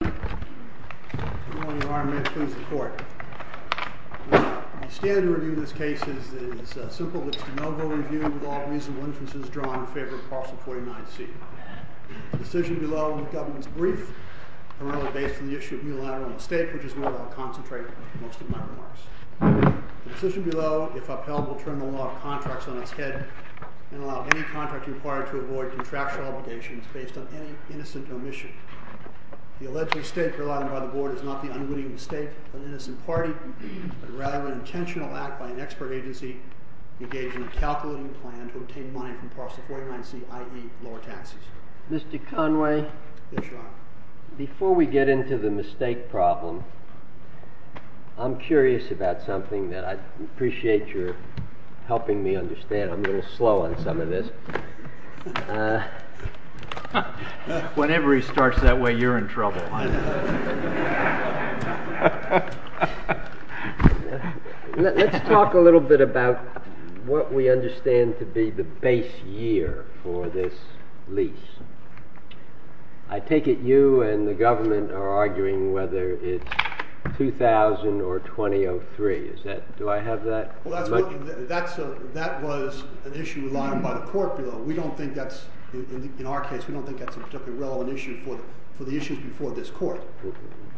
I stand to review this case. It is simple. It is a no-go review with all reasonable inferences drawn in favor of Parcel 49C. The decision below will be the government's brief, primarily based on the issue of unilateral mistake, which is where I will concentrate most of my remarks. The decision below, if upheld, will turn the law of contracts on its head and allow any contractor required to avoid contractual obligations based on any innocent omission. The alleged mistake provided by the Board is not the unwitting mistake of an innocent party, but rather an intentional act by an expert agency engaged in a calculating plan to obtain money from Parcel 49C, i.e., lower taxes. Mr. Conway, before we get into the mistake problem, I'm curious about something that I appreciate your helping me understand. I'm a little slow on some of this. Whenever he starts that way, you're in trouble. Let's talk a little bit about what we understand to be the base year for this lease. I take it you and the government are arguing whether it's 2000 or 2003. Do I have that? Well, that was an issue relied upon by the court below. We don't think that's, in our case, we don't think that's a particularly relevant issue for the issues before this court.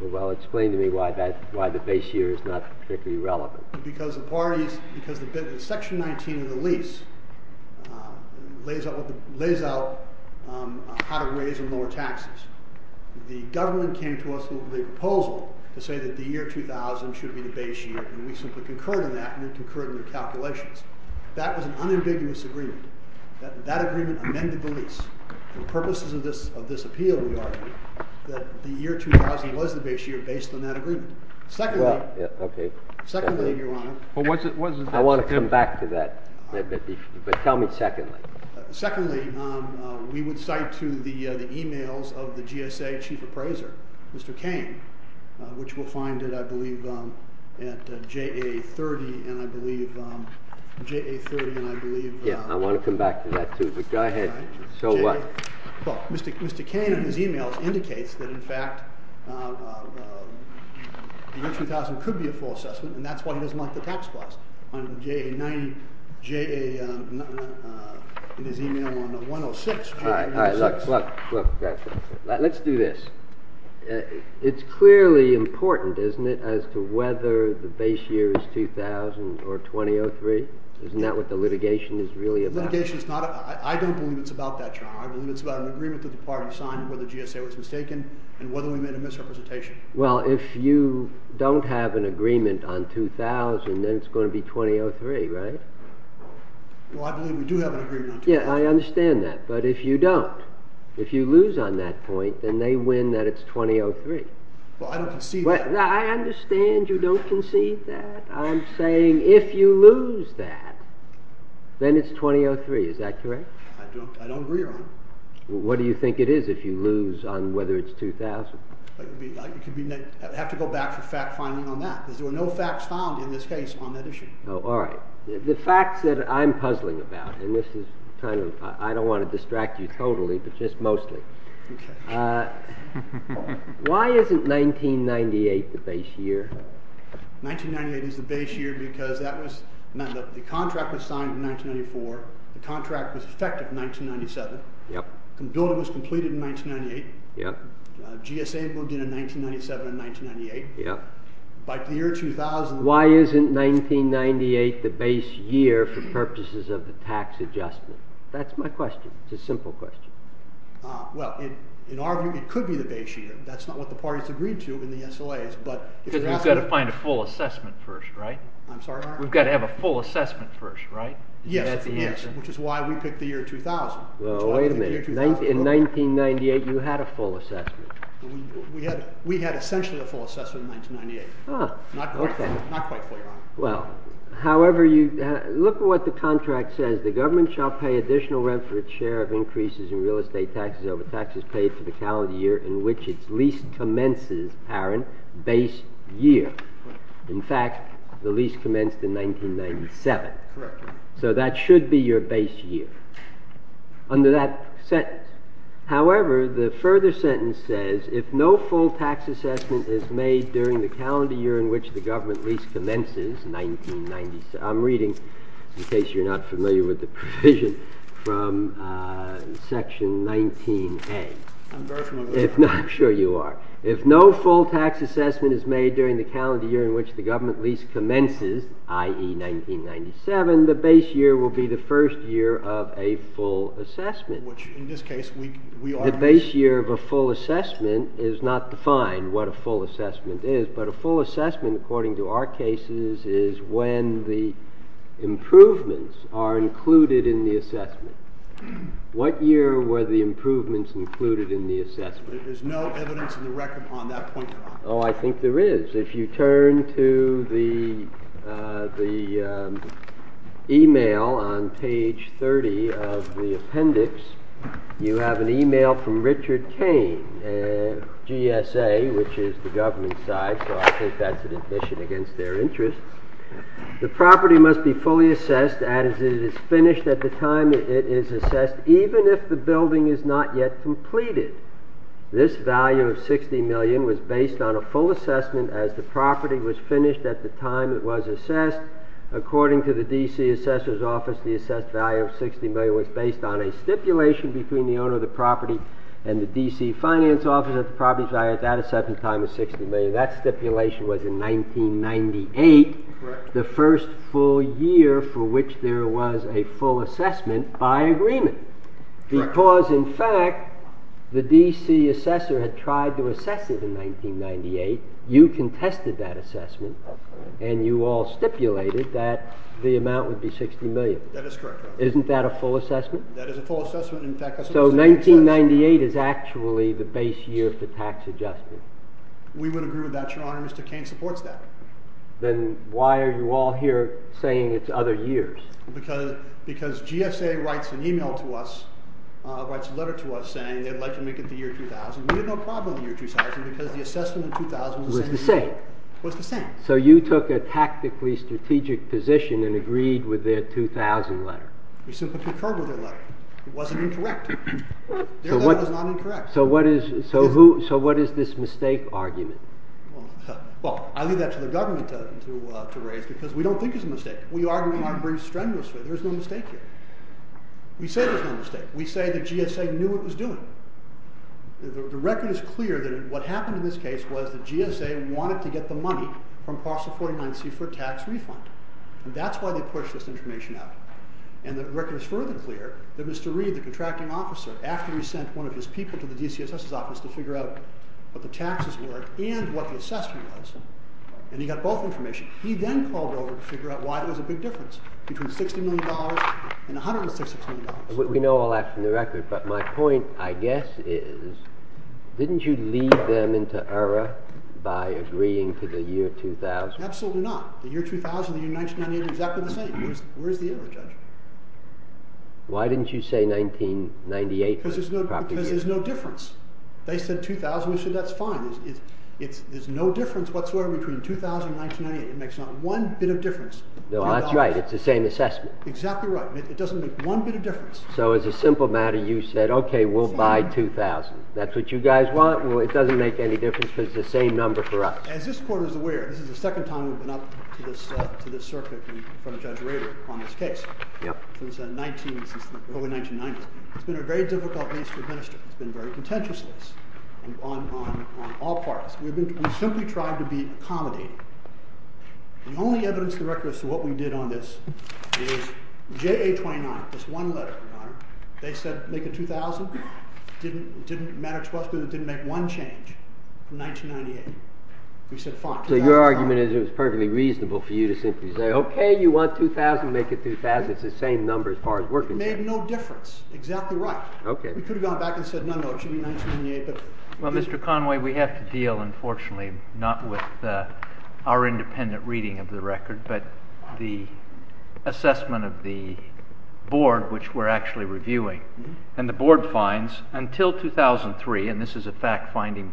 Well, explain to me why the base year is not particularly relevant. Because Section 19 of the lease lays out how to raise and lower taxes. The government came to us with a proposal to say that the year 2000 should be the base year, and we simply concurred in that, and we concurred in the calculations. That was an unambiguous agreement. That agreement amended the lease. For purposes of this appeal, we argue that the year 2000 was the base year based on that agreement. Secondly, Your Honor. I want to come back to that, but tell me secondly. Secondly, we would cite to the emails of the GSA chief appraiser, Mr. Cain, which we'll find it, I believe, at JA30. I want to come back to that, too, but go ahead. Well, Mr. Cain, in his emails, indicates that, in fact, the year 2000 could be a false assessment, and that's why he doesn't like the tax clause in his email on the 106. All right, look, let's do this. It's clearly important, isn't it, as to whether the base year is 2000 or 2003? Isn't that what the litigation is really about? I don't believe it's about that, Your Honor. I believe it's about an agreement that the party signed, whether GSA was mistaken, and whether we made a misrepresentation. Well, if you don't have an agreement on 2000, then it's going to be 2003, right? Well, I believe we do have an agreement on 2003. Yeah, I understand that, but if you don't, if you lose on that point, then they win that it's 2003. Well, I don't concede that. I'm saying if you lose that, then it's 2003. Is that correct? I don't agree, Your Honor. Well, what do you think it is if you lose on whether it's 2000? I'd have to go back for fact-finding on that, because there were no facts found in this case on that issue. Oh, all right. The facts that I'm puzzling about, and this is kind of, I don't want to distract you totally, but just mostly, why isn't 1998 the base year? 1998 is the base year because the contract was signed in 1994, the contract was effective in 1997, the building was completed in 1998, GSA moved in in 1997 and 1998. Why isn't 1998 the base year for purposes of the tax adjustment? That's my question. It's a simple question. Well, in our view, it could be the base year. That's not what the parties agreed to in the SLAs. Because we've got to find a full assessment first, right? I'm sorry, Your Honor? We've got to have a full assessment first, right? Yes, which is why we picked the year 2000. Well, wait a minute. In 1998, you had a full assessment. We had essentially a full assessment in 1998. Ah, okay. Not quite full, Your Honor. Well, however, look at what the contract says. The government shall pay additional rent for its share of increases in real estate taxes over taxes paid for the calendar year in which its lease commences, Aaron, base year. In fact, the lease commenced in 1997. Correct. So that should be your base year under that sentence. However, the further sentence says, if no full tax assessment is made during the calendar year in which the government lease commences, 1997. I'm reading, in case you're not familiar with the provision, from Section 19A. I'm very familiar with that. I'm sure you are. If no full tax assessment is made during the calendar year in which the government lease commences, i.e., 1997, the base year will be the first year of a full assessment. The base year of a full assessment is not defined what a full assessment is. But a full assessment, according to our cases, is when the improvements are included in the assessment. What year were the improvements included in the assessment? There's no evidence in the record on that point, Your Honor. Oh, I think there is. If you turn to the email on page 30 of the appendix, you have an email from Richard Kane, GSA, which is the government side. So I think that's an admission against their interest. The property must be fully assessed as it is finished at the time it is assessed, even if the building is not yet completed. This value of $60 million was based on a full assessment as the property was finished at the time it was assessed. According to the D.C. Assessor's Office, the assessed value of $60 million was based on a stipulation between the owner of the property and the D.C. Finance Office. The property's value at that assessment time was $60 million. That stipulation was in 1998, the first full year for which there was a full assessment by agreement. Because, in fact, the D.C. Assessor had tried to assess it in 1998. You contested that assessment, and you all stipulated that the amount would be $60 million. That is correct, Your Honor. Isn't that a full assessment? That is a full assessment. So 1998 is actually the base year for tax adjustment. We would agree with that, Your Honor. Mr. Kane supports that. Then why are you all here saying it's other years? Because GSA writes a letter to us saying they'd like to make it the year 2000. We had no problem with the year 2000 because the assessment in 2000 was the same. So you took a tactically strategic position and agreed with their 2000 letter? We simply concurred with their letter. It wasn't incorrect. Their letter was not incorrect. So what is this mistake argument? Well, I leave that to the government to raise because we don't think it's a mistake. We argue in our briefs strenuously. There's no mistake here. We say there's no mistake. We say that GSA knew what it was doing. The record is clear that what happened in this case was that GSA wanted to get the money from parcel 49c for tax refund, and that's why they pushed this information out. And the record is further clear that Mr. Reed, the contracting officer, after he sent one of his people to the D.C. Assessor's office to figure out what the taxes were and what the assessment was, and he got both information, he then called over to figure out why there was a big difference between $60 million and $166 million. We know all that from the record, but my point, I guess, is, didn't you lead them into error by agreeing to the year 2000? Absolutely not. The year 2000 and the year 1998 are exactly the same. Where's the error, Judge? Why didn't you say 1998? Because there's no difference. They said 2000, we said that's fine. There's no difference whatsoever between 2000 and 1998. It makes not one bit of difference. No, that's right. It's the same assessment. Exactly right. It doesn't make one bit of difference. So as a simple matter, you said, okay, we'll buy 2000. That's what you guys want? Well, it doesn't make any difference because it's the same number for us. As this Court is aware, this is the second time we've been up to this circuit from Judge Rader on this case. Yep. It's been very contentious on all parties. We've simply tried to be accommodating. The only evidence to the record as to what we did on this is JA29, this one letter, Your Honor, they said make it 2000. It didn't matter to us because it didn't make one change from 1998. We said fine. So your argument is it was perfectly reasonable for you to simply say, okay, you want 2000, make it 2000. It's the same number as far as we're concerned. It made no difference. Exactly right. We could have gone back and said, no, no, it should be 1998. Well, Mr. Conway, we have to deal, unfortunately, not with our independent reading of the record, but the assessment of the board, which we're actually reviewing, and the board finds until 2003, and this is a fact binding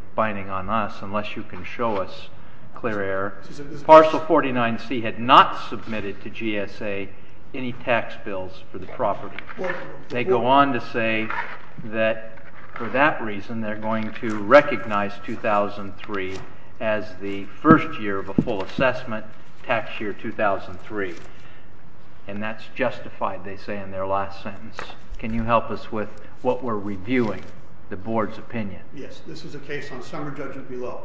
on us unless you can show us clear error, Partial 49C had not submitted to GSA any tax bills for the property. They go on to say that for that reason, they're going to recognize 2003 as the first year of a full assessment, tax year 2003, and that's justified, they say in their last sentence. Can you help us with what we're reviewing, the board's opinion? Yes, this is a case on summer judges below.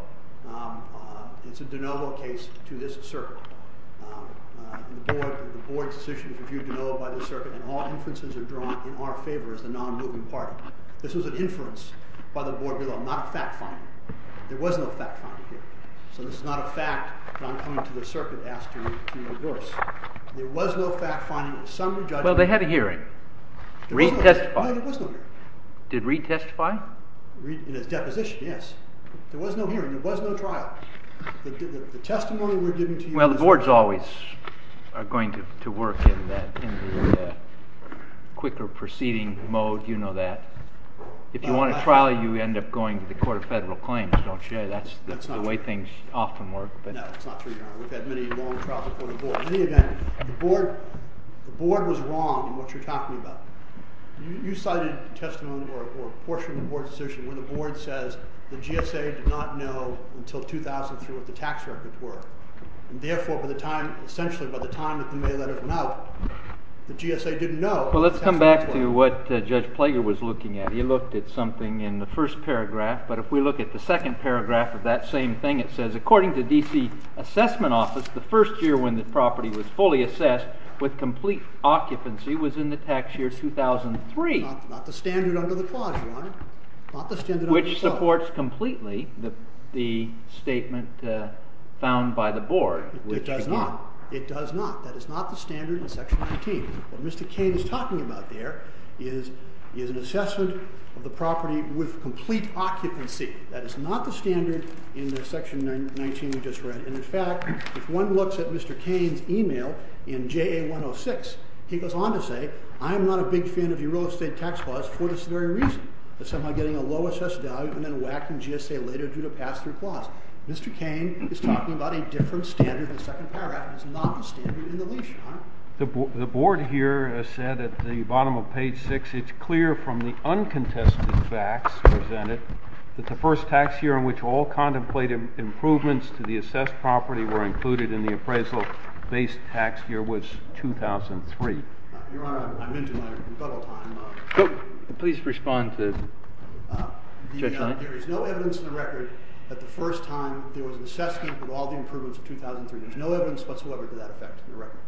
It's a de novo case to this circuit. The board's decision is reviewed de novo by the circuit, and all inferences are drawn in our favor as the non-moving party. This was an inference by the board below, not a fact finding. There was no fact finding here. So this is not a fact that I'm coming to the circuit to ask you to reverse. There was no fact finding of summer judges below. Well, they had a hearing. No, there was no hearing. Did Reid testify? In his deposition, yes. There was no hearing. There was no trial. The testimony we're giving to you is not a trial. Well, the boards always are going to work in the quicker proceeding mode. You know that. If you want a trial, you end up going to the Court of Federal Claims, don't you? That's the way things often work. No, it's not true, Your Honor. We've had many long trials before the board. In any event, the board was wrong in what you're talking about. You cited testimony or a portion of the board's decision where the board says the GSA did not know until 2003 what the tax records were. Therefore, essentially by the time that the mail letter came out, the GSA didn't know what the tax records were. Well, let's come back to what Judge Plager was looking at. He looked at something in the first paragraph, but if we look at the second paragraph of that same thing, it says according to the D.C. assessment office, the first year when the property was fully assessed with complete occupancy was in the tax year 2003. Not the standard under the clause, Your Honor. Not the standard under the clause. Which supports completely the statement found by the board. It does not. It does not. That is not the standard in Section 19. What Mr. Cain is talking about there is an assessment of the property with complete occupancy. That is not the standard in the Section 19 we just read. And, in fact, if one looks at Mr. Cain's email in JA 106, he goes on to say, I am not a big fan of your real estate tax clause for this very reason. It's somehow getting a low assessed value and then whacking GSA later due to a pass-through clause. Mr. Cain is talking about a different standard in the second paragraph. It's not the standard in the leash, Your Honor. The board here has said at the bottom of page 6, it's clear from the uncontested facts presented that the first tax year in which all contemplated improvements to the assessed property were included in the appraisal-based tax year was 2003. Your Honor, I'm into my rebuttal time. Please respond to Judge Hunt. There is no evidence in the record that the first time there was an assessment of all the improvements of 2003. There's no evidence whatsoever to that effect in the record.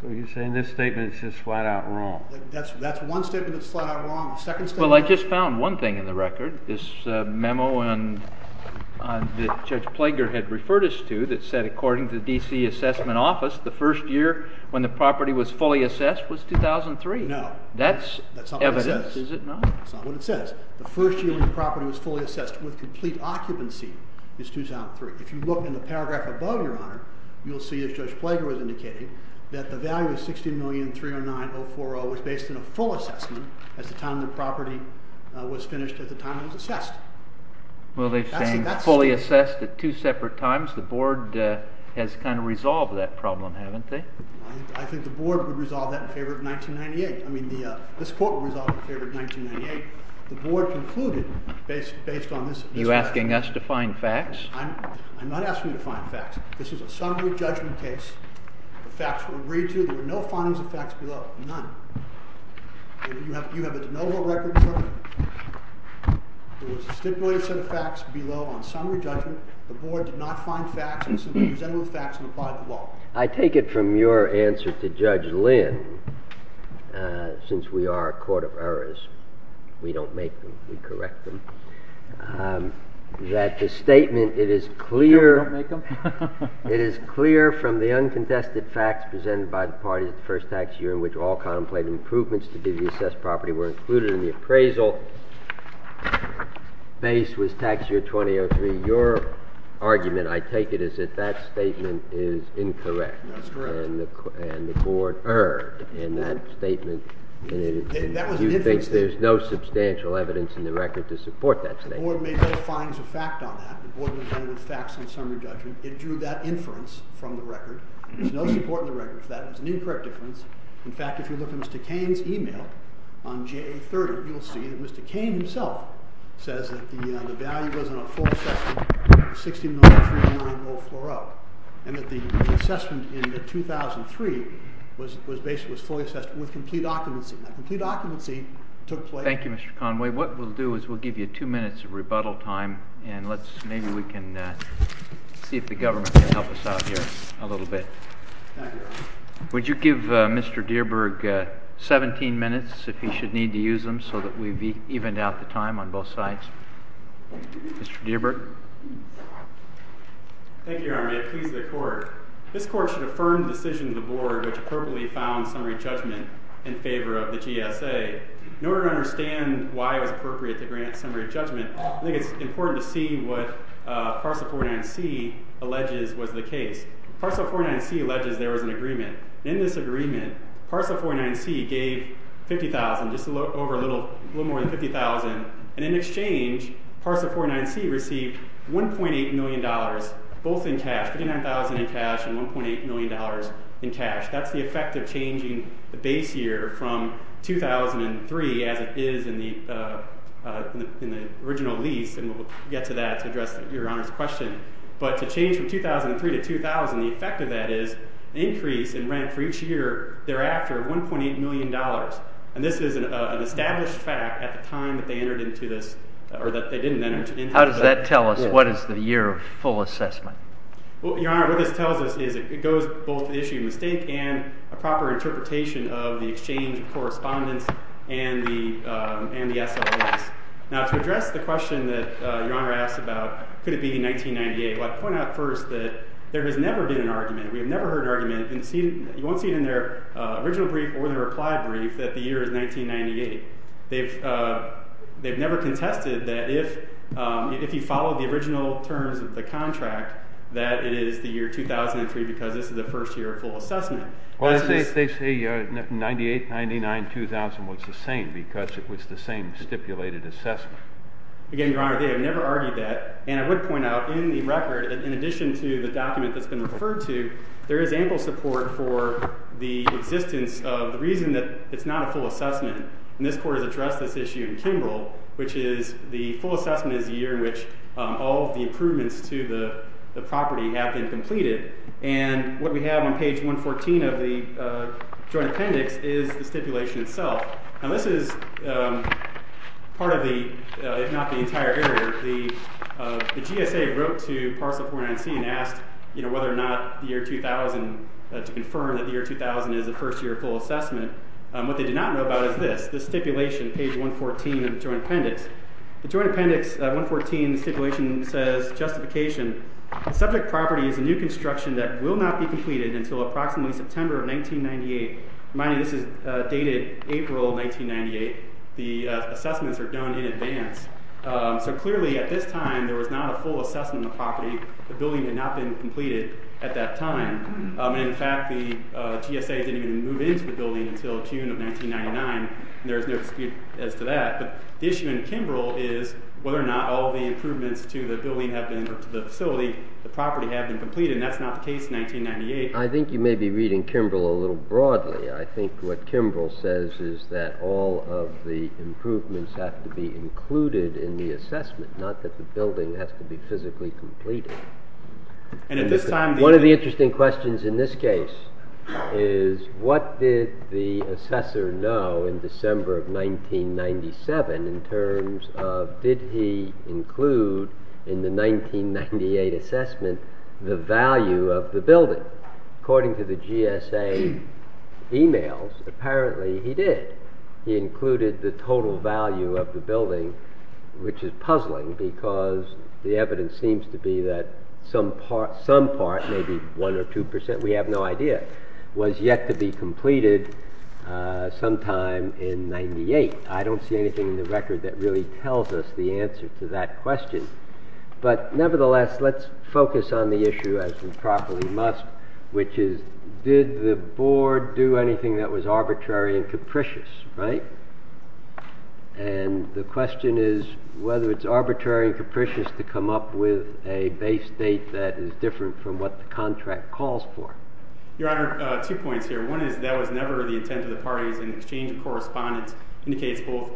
So you're saying this statement is just flat-out wrong. That's one statement that's flat-out wrong. The second statement... Well, I just found one thing in the record, this memo that Judge Plager had referred us to that said, according to the D.C. Assessment Office, the first year when the property was fully assessed was 2003. No. That's evidence, is it not? That's not what it says. The first year when the property was fully assessed with complete occupancy is 2003. If you look in the paragraph above, Your Honor, you'll see, as Judge Plager was indicating, that the value of $60,309,040 was based on a full assessment at the time the property was finished, at the time it was assessed. Well, they're saying fully assessed at two separate times. The Board has kind of resolved that problem, haven't they? I think the Board would resolve that in favor of 1998. I mean, this Court would resolve it in favor of 1998. The Board concluded, based on this... Are you asking us to find facts? I'm not asking you to find facts. This is a summary judgment case. The facts were agreed to. There were no findings of facts below. None. You have a de novo record, Your Honor. There was a stipulated set of facts below on summary judgment. The Board did not find facts, and there was no facts on the bottom of the law. I take it from your answer to Judge Lynn, since we are a court of errors, we don't make them, we correct them, that the statement, it is clear... No, we don't make them. It is clear from the uncontested facts presented by the parties at the first tax year in which all contemplated improvements to the assessed property were included in the appraisal, base was tax year 2003. Your argument, I take it, is that that statement is incorrect. That's correct. And the Board erred in that statement. That was an inference. You think there's no substantial evidence in the record to support that statement. The Board made no findings of fact on that. The Board was done with facts on summary judgment. It drew that inference from the record. There's no support in the record for that. It was an incorrect inference. In fact, if you look at Mr. Cain's email on JA30, you'll see that Mr. Cain himself says that the value was in a full assessment, $60,390,000 floor up, and that the assessment in 2003 was fully assessed with complete occupancy. Now, complete occupancy took place... Thank you, Mr. Conway. What we'll do is we'll give you 2 minutes of rebuttal time, and maybe we can see if the government can help us out here a little bit. Thank you. Would you give Mr. Dierberg 17 minutes if he should need to use them so that we've evened out the time on both sides? Mr. Dierberg. Thank you, Your Honor. May it please the Court. This Court should affirm the decision of the Board which appropriately found summary judgment in favor of the GSA. In order to understand why it was appropriate to grant summary judgment, I think it's important to see what Parcel 49C alleges was the case. Parcel 49C alleges there was an agreement. In this agreement, Parcel 49C gave $50,000 just over a little more than $50,000, and in exchange, Parcel 49C received $1.8 million both in cash, $59,000 in cash and $1.8 million in cash. That's the effect of changing the base year from 2003 as it is in the original lease, and we'll get to that to address Your Honor's question. But to change from 2003 to 2000, the effect of that is an increase in rent for each year thereafter of $1.8 million. And this is an established fact at the time that they entered into this, or that they didn't enter into this. How does that tell us what is the year of full assessment? Your Honor, what this tells us is it goes both to the issue of mistake and a proper interpretation of the exchange of correspondence and the SLS. Now, to address the question that Your Honor asked about could it be 1998, well, I'd point out first that there has never been an argument. We have never heard an argument, and you won't see it in their original brief or the reply brief, that the year is 1998. They've never contested that if you follow the original terms of the contract, that it is the year 2003 because this is the first year of full assessment. Well, they say 98, 99, 2000 was the same because it was the same stipulated assessment. Again, Your Honor, they have never argued that. And I would point out in the record, in addition to the document that's been referred to, there is ample support for the existence of the reason that it's not a full assessment. And this court has addressed this issue in Kimbrell, which is the full assessment is the year in which all of the improvements to the property have been completed. And what we have on page 114 of the joint appendix is the stipulation itself. Now, this is part of the, if not the entire error. The GSA wrote to Parcel 419C and asked whether or not the year 2000, to confirm that the year 2000 is the first year of full assessment. What they did not know about is this, the stipulation, page 114 of the joint appendix. The joint appendix, 114 stipulation, says, justification, subject property is a new construction that will not be completed until approximately September of 1998. Remind you, this is dated April 1998. The assessments are done in advance. So clearly, at this time, there was not a full assessment of the property. The building had not been completed at that time. And in fact, the GSA didn't even move into the building until June of 1999. And there is no dispute as to that. But the issue in Kimbrell is whether or not all of the improvements to the building have been, or to the facility, the property have been completed. And that's not the case in 1998. I think you may be reading Kimbrell a little broadly. I think what Kimbrell says is that all of the improvements have to be included in the assessment, not that the building has to be physically completed. One of the interesting questions in this case is what did the assessor know in December of 1997 in terms of, did he include in the 1998 assessment the value of the building? According to the GSA emails, apparently he did. He included the total value of the building, which is puzzling because the evidence seems to be that some part, maybe 1% or 2%, we have no idea, was yet to be completed sometime in 1998. I don't see anything in the record that really tells us the answer to that question. But nevertheless, let's focus on the issue as we properly must, which is did the board do anything that was arbitrary and capricious, right? And the question is whether it's arbitrary and capricious to come up with a base date that is different from what the contract calls for. Your Honor, two points here. One is that was never the intent of the parties in exchange of correspondence indicates both.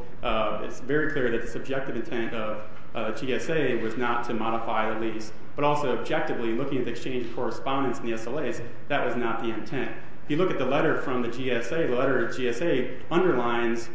It's very clear that the subjective intent of GSA was not to modify the lease. But also objectively, looking at the exchange of correspondence in the SLAs, that was not the intent. If you look at the letter from the GSA, the letter to GSA underlines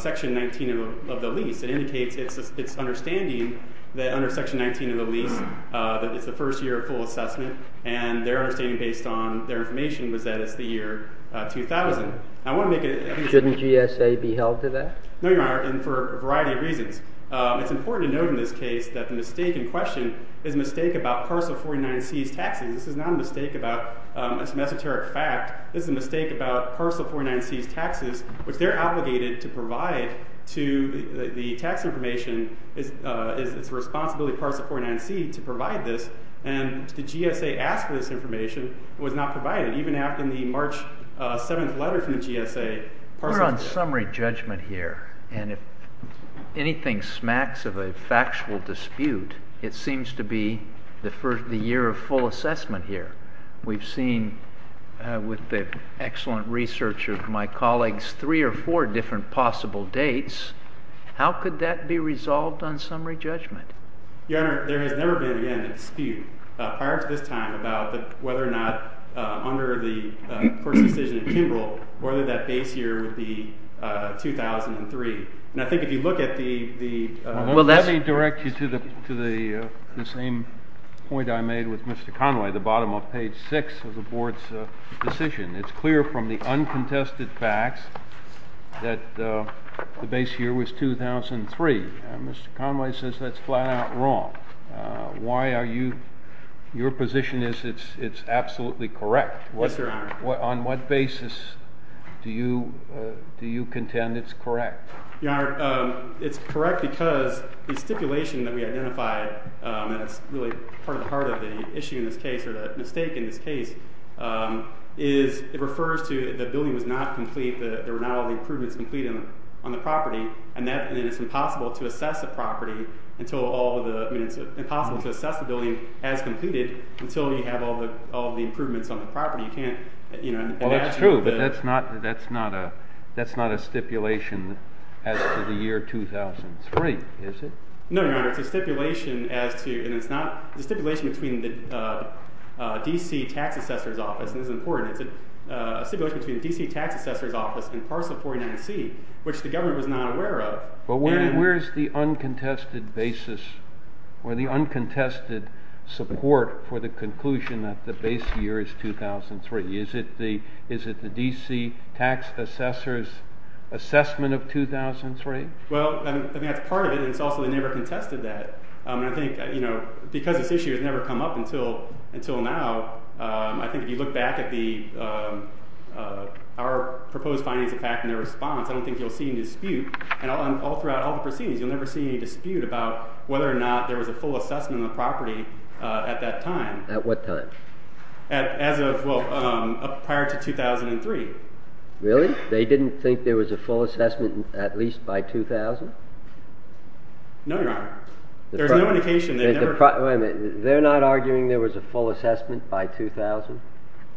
Section 19 of the lease. It indicates its understanding that under Section 19 of the lease that it's the first year of full assessment. And their understanding, based on their information, was that it's the year 2000. I want to make it clear. Shouldn't GSA be held to that? No, Your Honor, and for a variety of reasons. It's important to note in this case that the mistake in question is a mistake about parcel 49C's taxes. This is not a mistake about some esoteric fact. This is a mistake about parcel 49C's taxes, which they're obligated to provide to the tax information. It's the responsibility of parcel 49C to provide this. And the GSA asked for this information. It was not provided. Even after the March 7th letter from the GSA, parcel 49C. We're on summary judgment here. And if anything smacks of a factual dispute, it seems to be the year of full assessment here. We've seen, with the excellent research of my colleagues, three or four different possible dates. How could that be resolved on summary judgment? Your Honor, there has never been, again, a dispute prior to this time about whether or not, under the court's decision in Kimball, whether that base year would be 2003. And I think if you look at the... Let me direct you to the same point I made with Mr. Conway, the bottom of page six of the board's decision. It's clear from the uncontested facts that the base year was 2003. And Mr. Conway says that's flat out wrong. Why are you... Your position is it's absolutely correct. Yes, Your Honor. On what basis do you contend it's correct? Your Honor, it's correct because the stipulation that we identified, and it's really part of the heart of the issue in this case, or the mistake in this case, is it refers to the building was not complete, there were not all the improvements completed on the property, and it's impossible to assess the property until all of the... I mean, it's impossible to assess the building as completed until you have all of the improvements on the property. You can't... Well, that's true, but that's not a stipulation as to the year 2003, is it? No, Your Honor, it's a stipulation as to... And it's not... The stipulation between the D.C. Tax Assessor's Office, and this is important, it's a stipulation between the D.C. Tax Assessor's Office and parcel 49C, which the government was not aware of. But where is the uncontested basis, or the uncontested support for the conclusion that the base year is 2003? Is it the D.C. Tax Assessor's assessment of 2003? Well, I mean, that's part of it, and it's also they never contested that. And I think, you know, because this issue has never come up until now, I think if you look back at our proposed findings of PAC and their response, I don't think you'll see any dispute. And all throughout all the proceedings, you'll never see any dispute about whether or not there was a full assessment of the property at that time. At what time? As of, well, prior to 2003. Really? They didn't think there was a full assessment at least by 2000? No, Your Honor. There's no indication they never... Wait a minute. They're not arguing there was a full assessment by 2000?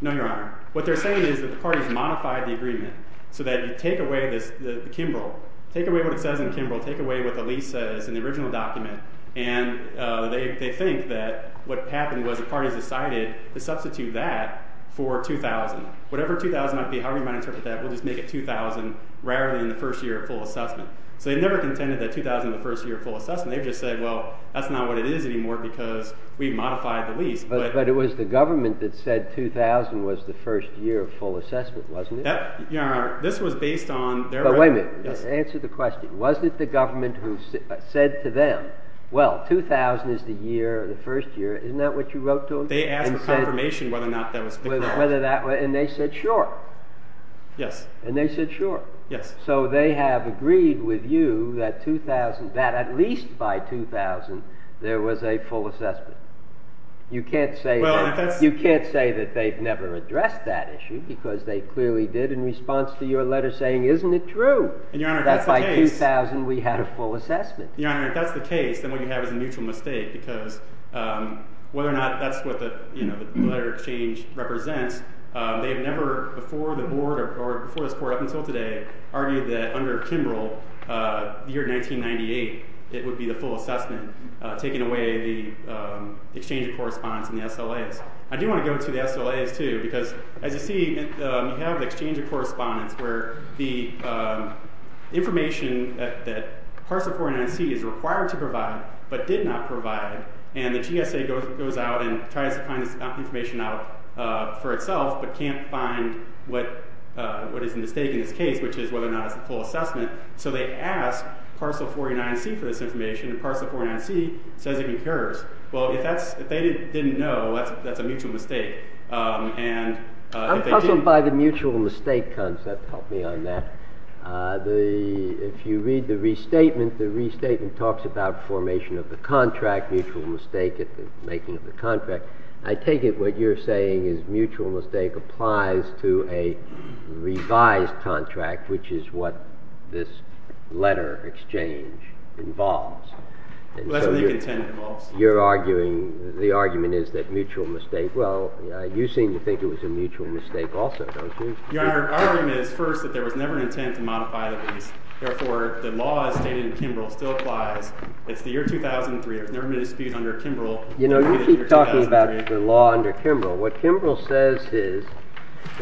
No, Your Honor. What they're saying is that the parties modified the agreement so that you take away this, the Kimbrell, take away what it says in Kimbrell, take away what the lease says in the original document, and they think that what happened was the parties decided to substitute that for 2000. Whatever 2000 might be, however you might interpret that, we'll just make it 2000 rather than the first year of full assessment. So they never contended that 2000 was the first year of full assessment. They just said, well, that's not what it is anymore because we modified the lease. But it was the government that said 2000 was the first year of full assessment, wasn't it? That, Your Honor, this was based on their... But wait a minute. Answer the question. Wasn't it the government who said to them, well, 2000 is the year, the first year. Isn't that what you wrote to them? They asked for confirmation whether or not that was... And they said, sure. Yes. And they said, sure. Yes. So they have agreed with you that at least by 2000 there was a full assessment. You can't say that they've never addressed that issue because they clearly did in response to your letter saying, isn't it true that by 2000 we had a full assessment? Your Honor, if that's the case, then what you have is a mutual mistake because whether or not that's what the letter of exchange represents, they have never before the Board or before this Court up until today argued that under Kimbrell, the year 1998, it would be the full assessment taking away the exchange of correspondence and the SLAs. I do want to go to the SLAs too because, as you see, you have the exchange of correspondence where the information that Parcel 49C is required to provide but did not provide, and the GSA goes out and tries to find this information out for itself but can't find what is at stake in this case, which is whether or not it's the full assessment. So they ask Parcel 49C for this information, and Parcel 49C says it concurs. Well, if they didn't know, that's a mutual mistake. I'm puzzled by the mutual mistake concept. Help me on that. If you read the restatement, the restatement talks about formation of the contract, mutual mistake at the making of the contract. I take it what you're saying is mutual mistake applies to a revised contract, which is what this letter of exchange involves. That's what the intent involves. You're arguing, the argument is that mutual mistake, well, you seem to think it was a mutual mistake also, don't you? Our argument is, first, that there was never an intent to modify the lease. Therefore, the law as stated in Kimbrell still applies. It's the year 2003. There's never been a dispute under Kimbrell. You know, you keep talking about the law under Kimbrell. What Kimbrell says is,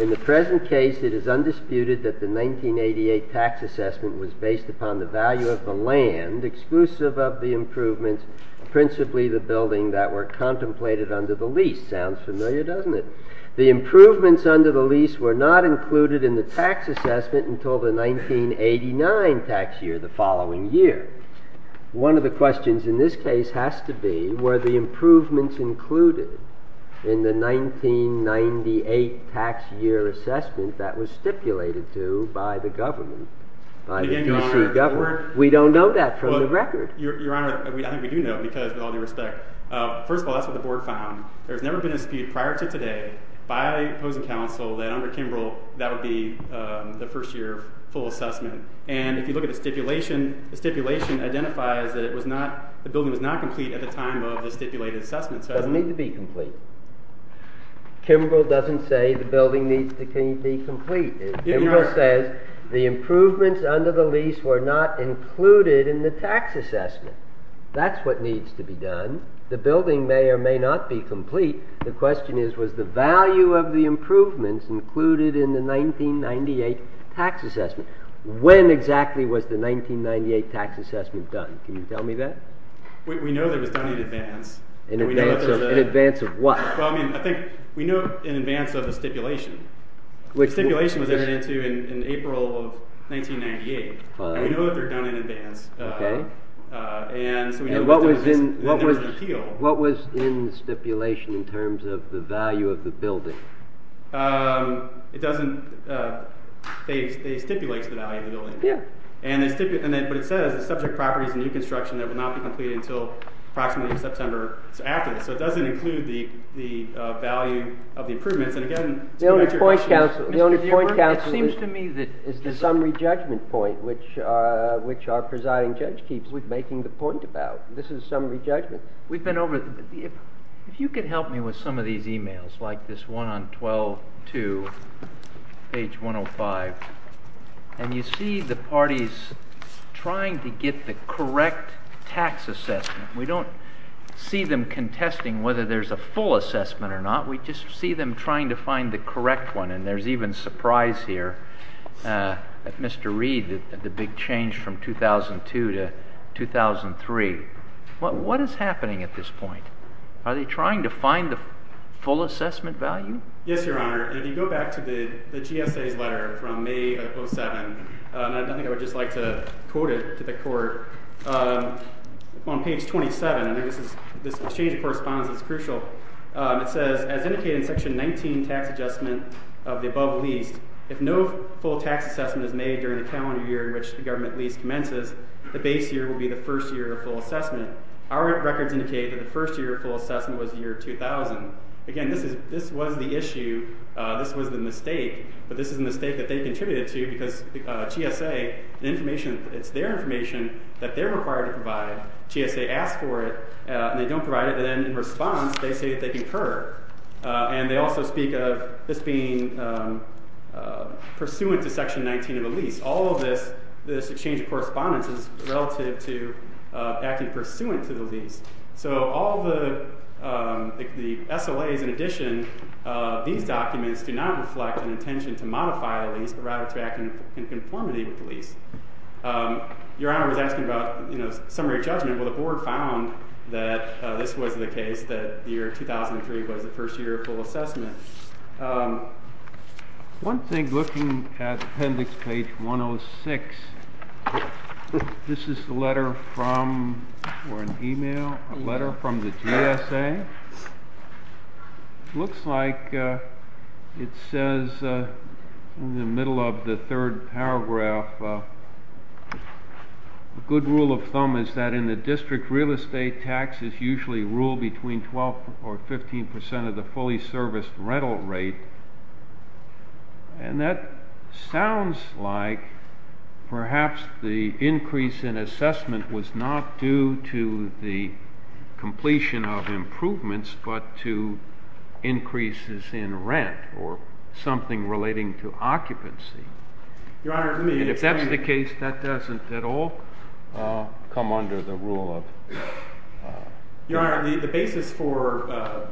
in the present case, it is undisputed that the 1988 tax assessment was based upon the value of the land exclusive of the improvements, principally the building that were contemplated under the lease. Sounds familiar, doesn't it? The improvements under the lease were not included in the tax assessment until the 1989 tax year the following year. One of the questions in this case has to be, were the improvements included in the 1998 tax year assessment that was stipulated to by the government, by the DC government? We don't know that from the record. Your Honor, I think we do know because, with all due respect, first of all, that's what the board found. There's never been a dispute prior to today by opposing counsel that under Kimbrell that would be the first year full assessment. And if you look at the stipulation, the stipulation identifies that the building was not complete at the time of the stipulated assessment. It doesn't need to be complete. Kimbrell doesn't say the building needs to be complete. Kimbrell says the improvements under the lease were not included in the tax assessment. That's what needs to be done. The building may or may not be complete. The question is, was the value of the improvements included in the 1998 tax assessment? When exactly was the 1998 tax assessment done? Can you tell me that? We know that it was done in advance. In advance of what? We know in advance of the stipulation. The stipulation was entered into in April of 1998. We know that they were done in advance. And what was in the stipulation in terms of the value of the building? They stipulate the value of the building. But it says the subject property is a new construction that will not be completed until approximately September. So it doesn't include the value of the improvements. The only point, counsel, is the summary judgment point, which our presiding judge keeps making the point about. This is summary judgment. If you could help me with some of these emails, like this one on 12-2, page 105. And you see the parties trying to get the correct tax assessment. We don't see them contesting whether there's a full assessment or not. We just see them trying to find the correct one. And there's even surprise here at Mr. Reed, the big change from 2002 to 2003. What is happening at this point? Are they trying to find the full assessment value? Yes, Your Honor. If you go back to the GSA's letter from May of 2007, and I think I would just like to quote it to the Court. On page 27, and this exchange of correspondence is crucial, it says, as indicated in Section 19, Tax Adjustment of the Above Leased, if no full tax assessment is made during the calendar year in which the government lease commences, the base year will be the first year of full assessment. Our records indicate that the first year of full assessment was the year 2000. Again, this was the issue. This was the mistake, but this is a mistake that they contributed to GSA asks for it, and they don't provide it, and then in response, they say that they concur. And they also speak of this being pursuant to Section 19 of a lease. All of this, this exchange of correspondence is relative to acting pursuant to the lease. So all the SOAs in addition, these documents do not reflect an intention to modify the lease, but rather to act in conformity with the lease. Your Honor was asking about summary of judgment. Well, the Board found that this was the case, that the year 2003 was the first year of full assessment. One thing looking at appendix page 106, this is a letter from, or an email, a letter from the GSA. It looks like it says in the middle of the third paragraph, a good rule of thumb is that in the district, real estate taxes usually rule between 12 or 15 percent of the fully serviced rental rate. And that sounds like perhaps the increase in assessment was not due to the completion of improvements, but to increases in rent or something relating to occupancy. Your Honor, let me explain. And if that's the case, that doesn't at all come under the rule of. Your Honor, the basis for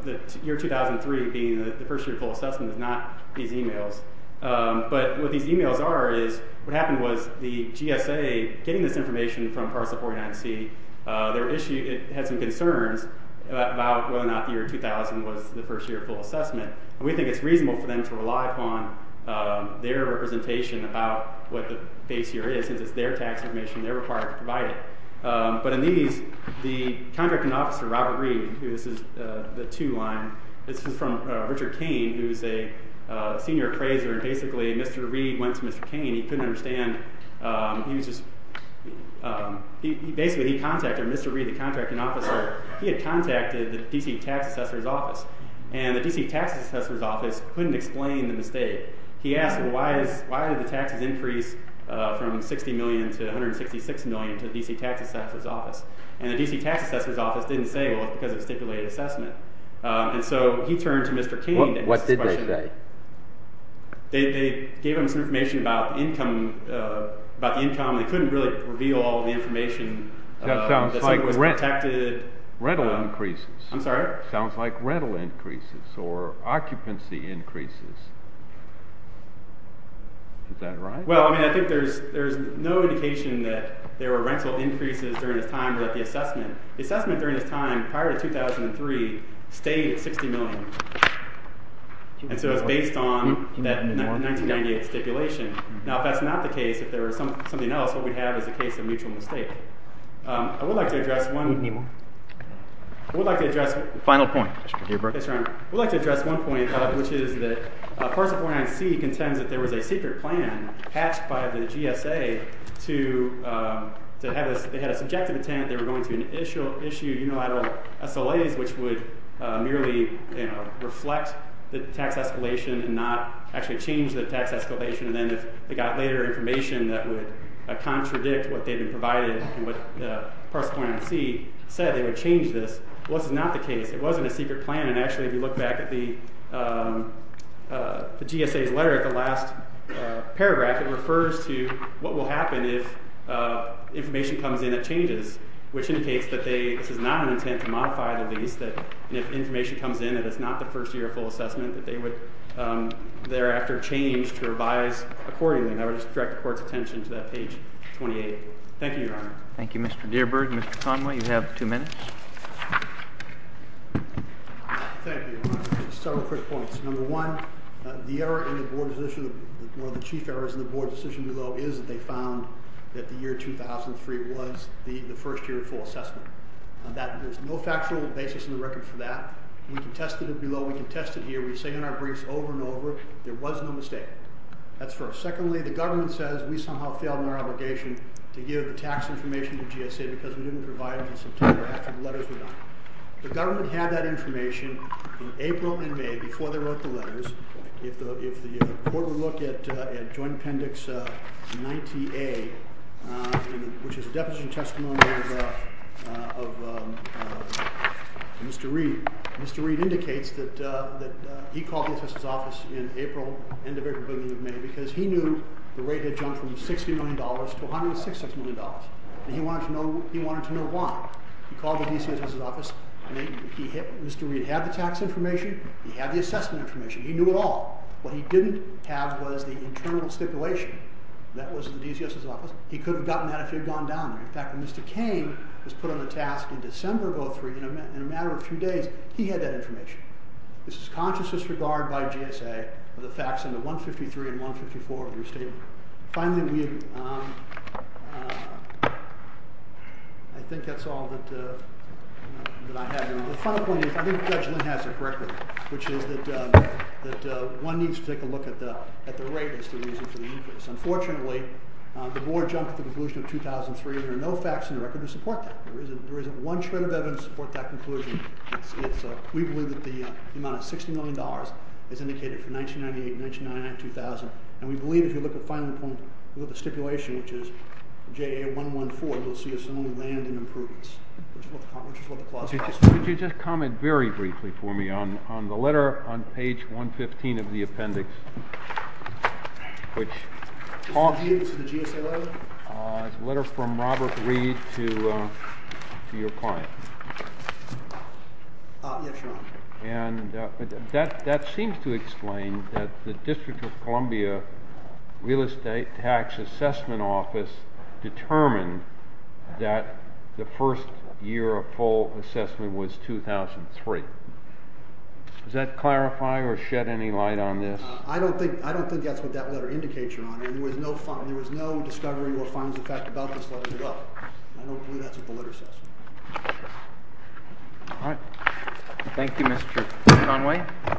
the year 2003 being the first year of full assessment is not these emails. But what these emails are is, what happened was the GSA, getting this information from Parcel 49C, had some concerns about whether or not the year 2000 was the first year of full assessment. And we think it's reasonable for them to rely upon their representation about what the base year is, since it's their tax information and they're required to provide it. But in these, the contracting officer, Robert Reed, who this is the two line, this is from Richard Kane, who's a senior appraiser. And basically, Mr. Reed went to Mr. Kane. He couldn't understand. Basically, he contacted Mr. Reed, the contracting officer. He had contacted the D.C. Tax Assessor's Office. And the D.C. Tax Assessor's Office couldn't explain the mistake. He asked, well, why did the taxes increase from $60 million to $166 million to the D.C. Tax Assessor's Office? And the D.C. Tax Assessor's Office didn't say, well, it's because of stipulated assessment. And so he turned to Mr. Kane and asked this question. What did they say? They gave him some information about income, about the income. They couldn't really reveal all the information. That sounds like rental increases. I'm sorry? Is that right? Well, I mean, I think there's no indication that there were rental increases during this time without the assessment. The assessment during this time, prior to 2003, stayed at $60 million. And so it's based on that 1998 stipulation. Now, if that's not the case, if there was something else, what we'd have is a case of mutual mistake. I would like to address one. Any more? I would like to address one. Final point. Yes, Your Honor. I would like to address one point, which is that parcel 49C contends that there was a secret plan hatched by the GSA to have this. They had a subjective intent. They were going to issue unilateral SLAs, which would merely reflect the tax escalation and not actually change the tax escalation. And then if they got later information that would contradict what they'd been provided and what parcel 49C said, they would change this. Well, this is not the case. It wasn't a secret plan. And actually, if you look back at the GSA's letter at the last paragraph, it refers to what will happen if information comes in that changes, which indicates that this is not an intent to modify the lease, that if information comes in and it's not the first year of full assessment, that they would thereafter change to revise accordingly. And I would just direct the Court's attention to that page 28. Thank you, Your Honor. Thank you, Mr. Dearburg. Mr. Conway, you have two minutes. Thank you, Your Honor. Several quick points. Number one, one of the chief errors in the Board's decision below is that they found that the year 2003 was the first year of full assessment. There's no factual basis in the record for that. We can test it below. We can test it here. We say in our briefs over and over there was no mistake. That's first. Secondly, the government says we somehow failed in our obligation to give the tax information to GSA because we didn't provide it in September after the letters were done. The government had that information in April and May before they wrote the letters. If the Board would look at Joint Appendix 90A, which is a definition of testimony of Mr. Reed, Mr. Reed indicates that he called the DA's office in April, end of April, beginning of May, because he knew the rate had jumped from $60 million to $106 million, and he wanted to know why. He called the DCS's office, and Mr. Reed had the tax information. He had the assessment information. He knew it all. What he didn't have was the internal stipulation. That was the DCS's office. He could have gotten that if he had gone down there. In fact, when Mr. Cain was put on the task in December of 2003, in a matter of a few days, he had that information. This is conscious disregard by GSA of the facts in the 153 and 154 of your statement. Finally, I think that's all that I have. The final point is, I think Judge Lynn has it correctly, which is that one needs to take a look at the rate that's the reason for the increase. Unfortunately, the Board jumped to the conclusion of 2003. There are no facts in the record to support that. There isn't one shred of evidence to support that conclusion. We believe that the amount of $60 million is indicated for 1998, 1999, 2000, and we believe if you look at the final point, look at the stipulation, which is JA114, you'll see a similar land and improvements, which is what the clause says. Could you just comment very briefly for me on the letter on page 115 of the appendix? This is the GSA letter? It's a letter from Robert Reed to your client. Yes, Your Honor. That seems to explain that the District of Columbia Real Estate Tax Assessment Office determined that the first year of full assessment was 2003. Does that clarify or shed any light on this? I don't think that's what that letter indicates, Your Honor. There was no discovery or final effect about this letter at all. I don't believe that's what the letter says. All right. Thank you, Mr. Conway.